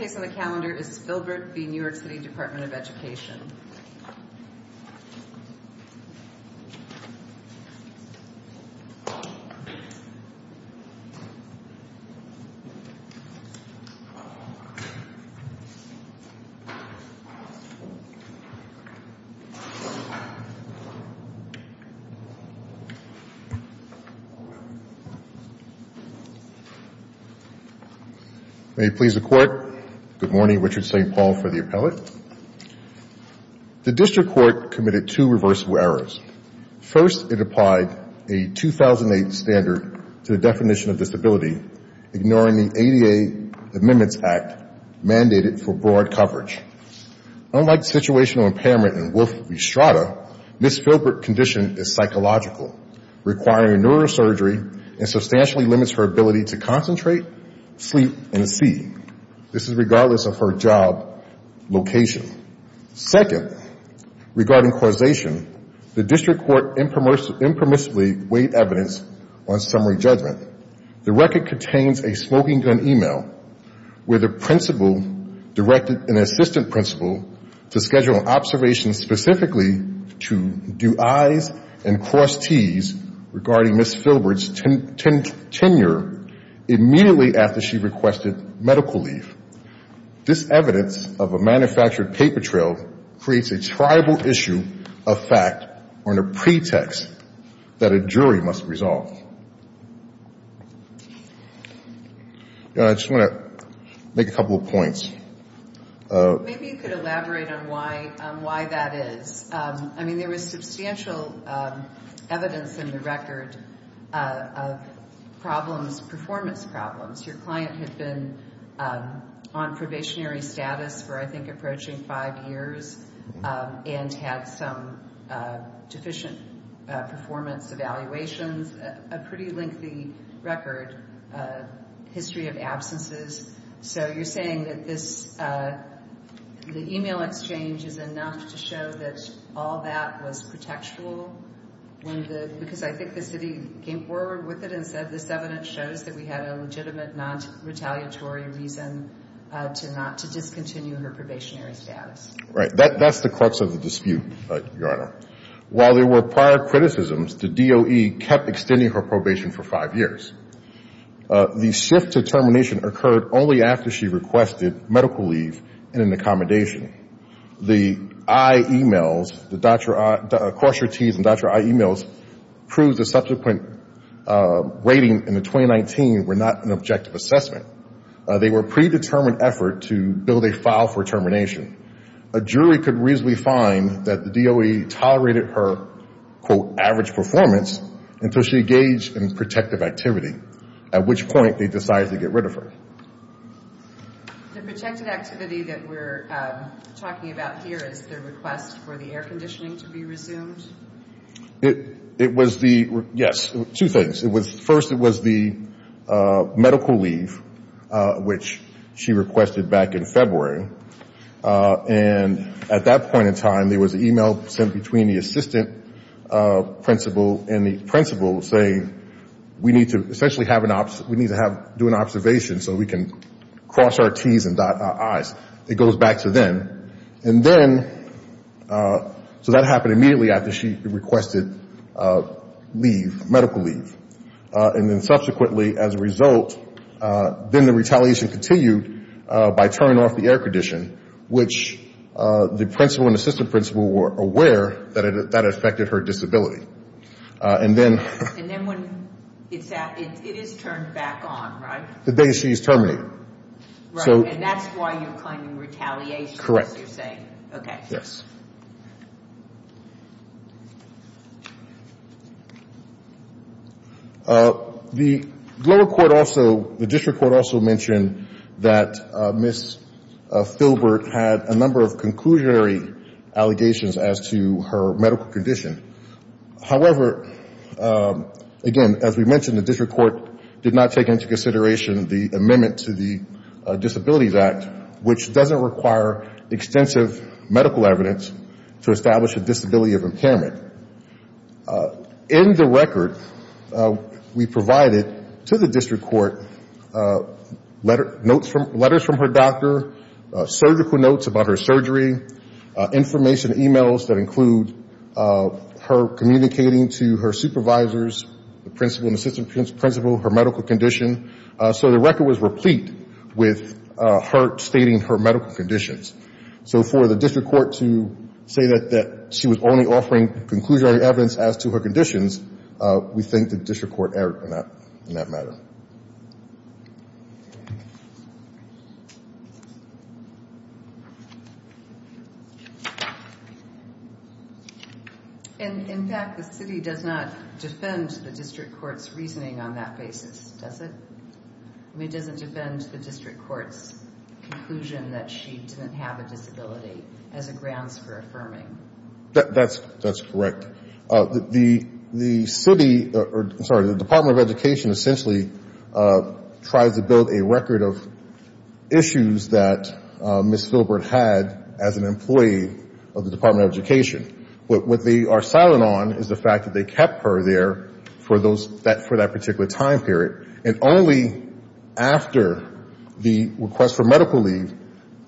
The next case on the calendar is Philbert v. New York City Department of Education. May it please the Court. Good morning. Richard St. Paul for the appellate. The district court committed two reversible errors. First, it applied a 2008 standard to the definition of disability, ignoring the ADA Amendments Act mandated for broad coverage. Unlike situational impairment in Wolf v. Strada, Ms. Philbert's condition is psychological, requiring neurosurgery and substantially limits her ability to concentrate, sleep and see. This is regardless of her job location. Second, regarding causation, the district court impermissibly weighed evidence on summary judgment. The record contains a smoking gun e-mail where the principal directed an assistant principal to schedule an observation specifically to do I's and cross T's regarding Ms. Philbert's tenure immediately after she requested medical leave. This evidence of a manufactured paper trail creates a triable issue of fact on a pretext that a jury must resolve. I just want to make a couple of points. Maybe you could elaborate on why that is. I mean, there was substantial evidence in the record of problems, performance problems. Your client had been on probationary status for I think approaching five years and had some deficient performance evaluations, a pretty lengthy record, history of absences. So you're saying that the e-mail exchange is enough to show that all that was protectual because I think the city came forward with it and said this evidence shows that we had a legitimate non-retaliatory reason to not discontinue her probationary status. Right. That's the crux of the dispute, Your Honor. While there were prior criticisms, the DOE kept extending her probation for five years. The shift to termination occurred only after she requested medical leave and an accommodation. The I e-mails, the cross your T's and doctor I e-mails proved the subsequent weighting in the 2019 were not an objective assessment. They were a predetermined effort to build a file for termination. A jury could reasonably find that the DOE tolerated her, quote, average performance until she engaged in protective activity, at which point they decided to get rid of her. The protective activity that we're talking about here is the request for the air conditioning to be resumed? It was the, yes, two things. First it was the medical leave, which she requested back in February. And at that point in time, there was an e-mail sent between the assistant principal and the principal saying we need to essentially have an, we need to have, do an observation so we can cross our T's and doctor I's. It goes back to them. And then, so that happened immediately after she requested leave, medical leave. And then subsequently as a result, then the retaliation continued by turning off the air condition, which the principal and assistant principal were aware that it, that it affected her disability. And then. And then when it's, it is turned back on, right? The day she's terminated. Right. And that's why you're claiming retaliation. Correct. As you're saying. Okay. Yes. The lower court also, the district court also mentioned that Ms. Philbert had a number of conclusionary allegations as to her medical condition. However, again, as we mentioned, the district court did not take into consideration the amendment to the Disabilities Act, which doesn't require extensive medical evidence to establish a disability of impairment. In the record, we provided to the district court letters from her doctor, surgical notes about her surgery, information, e-mails that include her communicating to her supervisors, the principal and assistant principal, her medical condition. So the record was replete with her stating her medical conditions. So for the district court to say that she was only offering conclusionary evidence as to her conditions, we think the district court erred in that matter. And in fact, the city does not defend the district court's reasoning on that basis, does it? I mean, it doesn't defend the district court's conclusion that she didn't have a disability as a grounds for affirming. That's correct. The city, sorry, the Department of Education essentially tries to build a record of issues that Ms. Philbert had as an employee of the Department of Education. But what they are silent on is the fact that they didn't hear the request for medical leave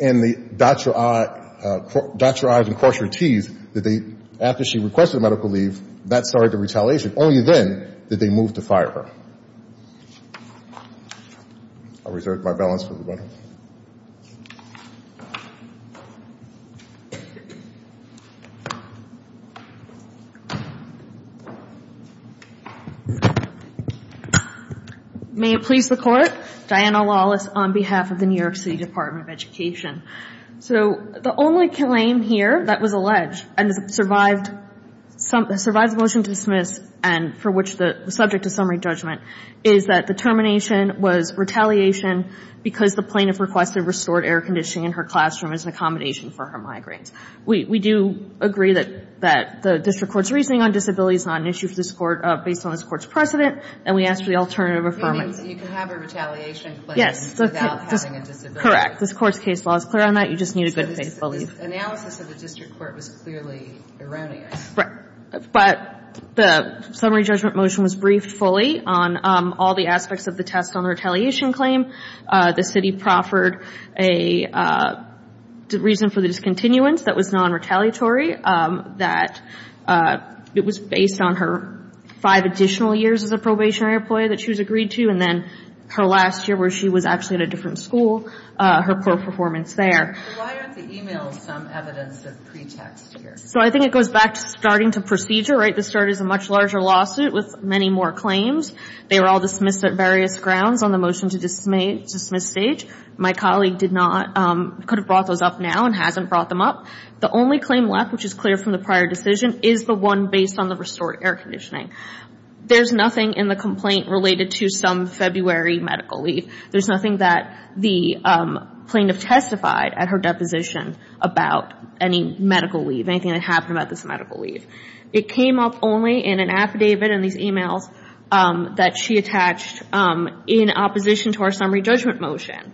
and the dot-your-i's and cross-your-t's that they, after she requested medical leave, that started the retaliation. Only then did they move to fire her. I'll reserve my balance for the record. May it please the Court. Diana Lawless on behalf of the New York City Department of Education. So the only claim here that was alleged and survived the motion to dismiss and for which the subject of summary judgment is that the termination was retaliation because the plaintiff requested restored air conditioning in her classroom as an accommodation for her migraines. We do agree that the district court's reasoning on disability is not an issue for this court based on this court's precedent, and we ask for the alternative affirmation. You mean you can have a retaliation claim without having a disability? Correct. This court's case law is clear on that. You just need a good faith belief. So this analysis of the district court was clearly erroneous. But the summary judgment motion was briefed fully on all the aspects of the test on the retaliation claim. The city proffered a reason for the discontinuance that was nonretaliatory, that it was based on her five additional years as a probationary employee that she was agreed to, and then her last year where she was actually at a different school, her poor performance there. So why aren't the e-mails some evidence of pretext here? So I think it goes back to starting to procedure, right? This started as a much larger lawsuit with many more claims. They were all dismissed at various grounds on the motion to dismiss stage. My colleague could have brought those up now and hasn't brought them up. The only claim left, which is clear from the prior decision, is the one based on the restored air conditioning. There's nothing in the air conditioning that was in her deposition about any medical leave, anything that happened about this medical leave. It came up only in an affidavit and these e-mails that she attached in opposition to our summary judgment motion.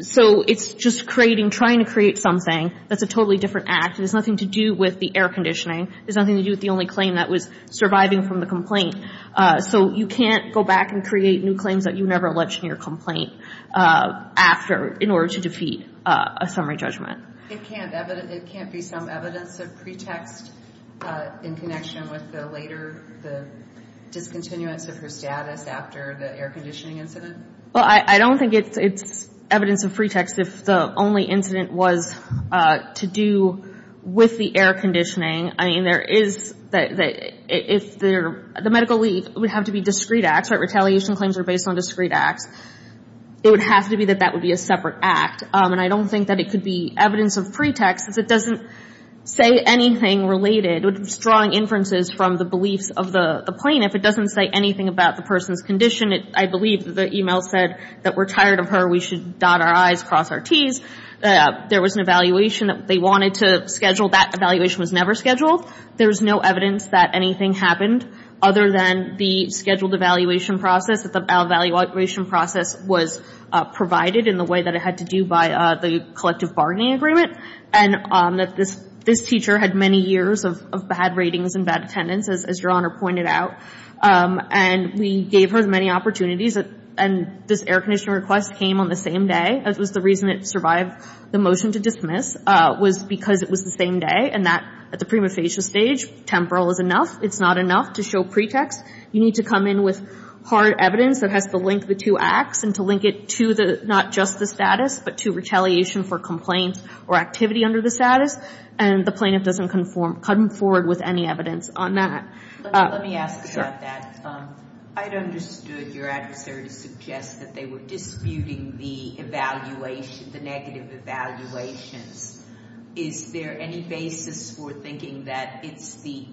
So it's just creating, trying to create something that's a totally different act. It has nothing to do with the air conditioning. It has nothing to do with the only claim that was surviving from the complaint. So you can't go back and create new claims that you never alleged in your complaint in order to defeat a summary judgment. It can't be some evidence of pretext in connection with the later discontinuance of her status after the air conditioning incident? Well, I don't think it's evidence of pretext if the only incident was to do with the air conditioning. I mean, there is, if the medical leave would have to be discrete acts, right, retaliation claims are based on discrete acts, it would have to be that that would be a separate act. And I don't think that it could be evidence of pretext. It doesn't say anything related, with strong inferences from the beliefs of the plaintiff. It doesn't say anything about the person's condition. I believe the e-mail said that we're tired of her. We should dot our I's, cross our T's. There was an evaluation that they wanted to schedule. That evaluation was never scheduled. There's no evidence that anything happened other than the scheduled evaluation process, that the evaluation process was provided in the way that it had to do by the collective bargaining agreement, and that this teacher had many years of bad ratings and bad attendance, as Your Honor pointed out. And we gave her many opportunities, and this air conditioning request came on the same day. That was the reason it survived the motion to dismiss, was because it was the same day, and that, at the prima facie stage, temporal is enough. It's not enough to show pretext. You need to come in with hard evidence that has to link the two acts and to link it to the, not just the status, but to retaliation for complaints or activity under the status. And the plaintiff doesn't conform, come forward with any evidence on that. Let me ask about that. I'd understood your adversary to suggest that they were disputing the evaluation, the negative evaluations. Is there any basis for thinking that it's the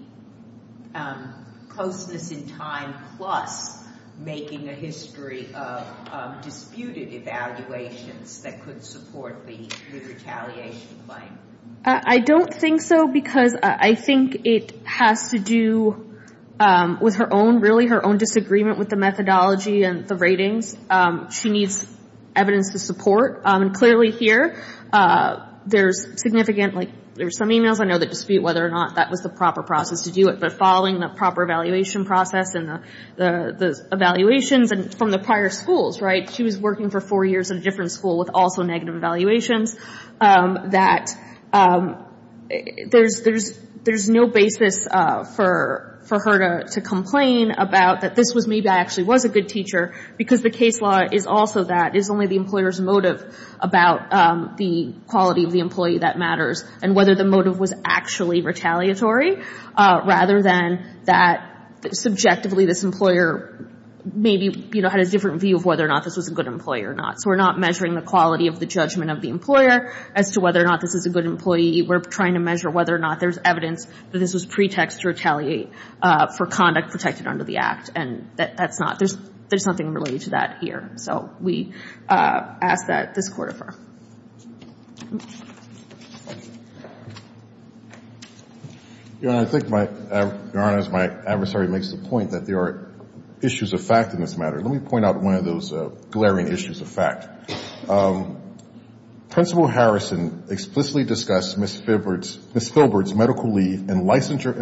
closeness in time plus making a history of disputed evaluations that could support the retaliation claim? I don't think so, because I think it has to do with her own, really, her own disagreement with the methodology and the ratings. She needs evidence to support. And clearly here, there's significant, like, there's some emails. I know they dispute whether or not that was the proper process to do it, but following the proper evaluation process and the evaluations from the prior schools, right, she was working for four years in a different school with also negative evaluations, that there's no basis for her to complain about that this was me, that I actually was a good teacher, because the case law is also that. It's only the employer's motive about the quality of the employee that matters and whether the motive was actually retaliatory, rather than that subjectively this employer maybe, you know, had a different view of whether or not this was a good employer or not. So we're not measuring the quality of the judgment of the employer as to whether or not this is a good employee. We're trying to measure whether or not there's evidence that this was pretext to retaliate for conduct protected under the Act. And that's not, there's nothing related to that here. So we ask that this court affirm. Your Honor, I think my, Your Honor, as my adversary makes the point that there are issues of fact in this matter. Let me point out one of those glaring issues of fact. Principal Harrison explicitly discussed Ms. Philbert's medical leave and licensure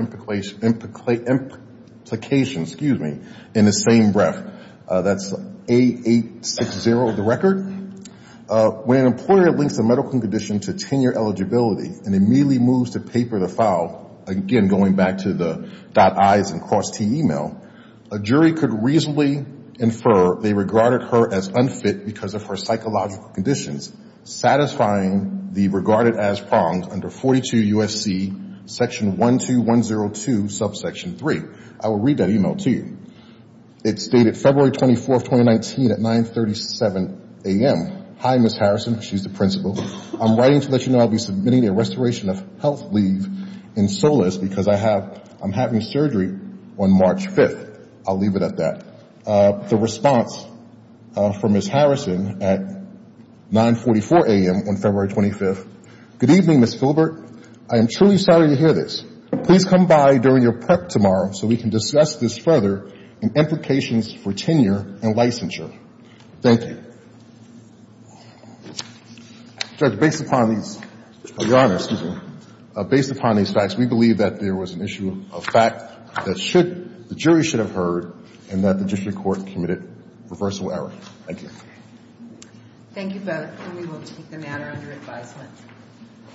implication, excuse me, in the same breath. That's A860 of the record. When an employer links a medical condition to tenure eligibility and immediately moves to paper the file, again, going back to the dot I's and cross T e-mail, a jury could reasonably infer that the regarded her as unfit because of her psychological conditions, satisfying the regarded as prongs under 42 U.S.C. section 12102 subsection 3. I will read that e-mail to you. It's dated February 24th, 2019 at 937 a.m. Hi, Ms. Harrison. She's the principal. I'm writing to let you know I'll be submitting a restoration of health leave in SOLAS because I have, I'm having surgery on March 5th. I'll leave it at that. The response from Ms. Harrison at 944 a.m. on February 25th. Good evening, Ms. Philbert. I am truly sorry to hear this. Please come by during your prep tomorrow so we can discuss this further and implications for tenure and licensure. Thank you. Judge, based upon these, Your Honor, excuse me, based upon these facts, we believe that there was an issue of fact that should, the jury should have heard and that the district court committed reversal error. Thank you. Thank you both and we will take the matter under advisement.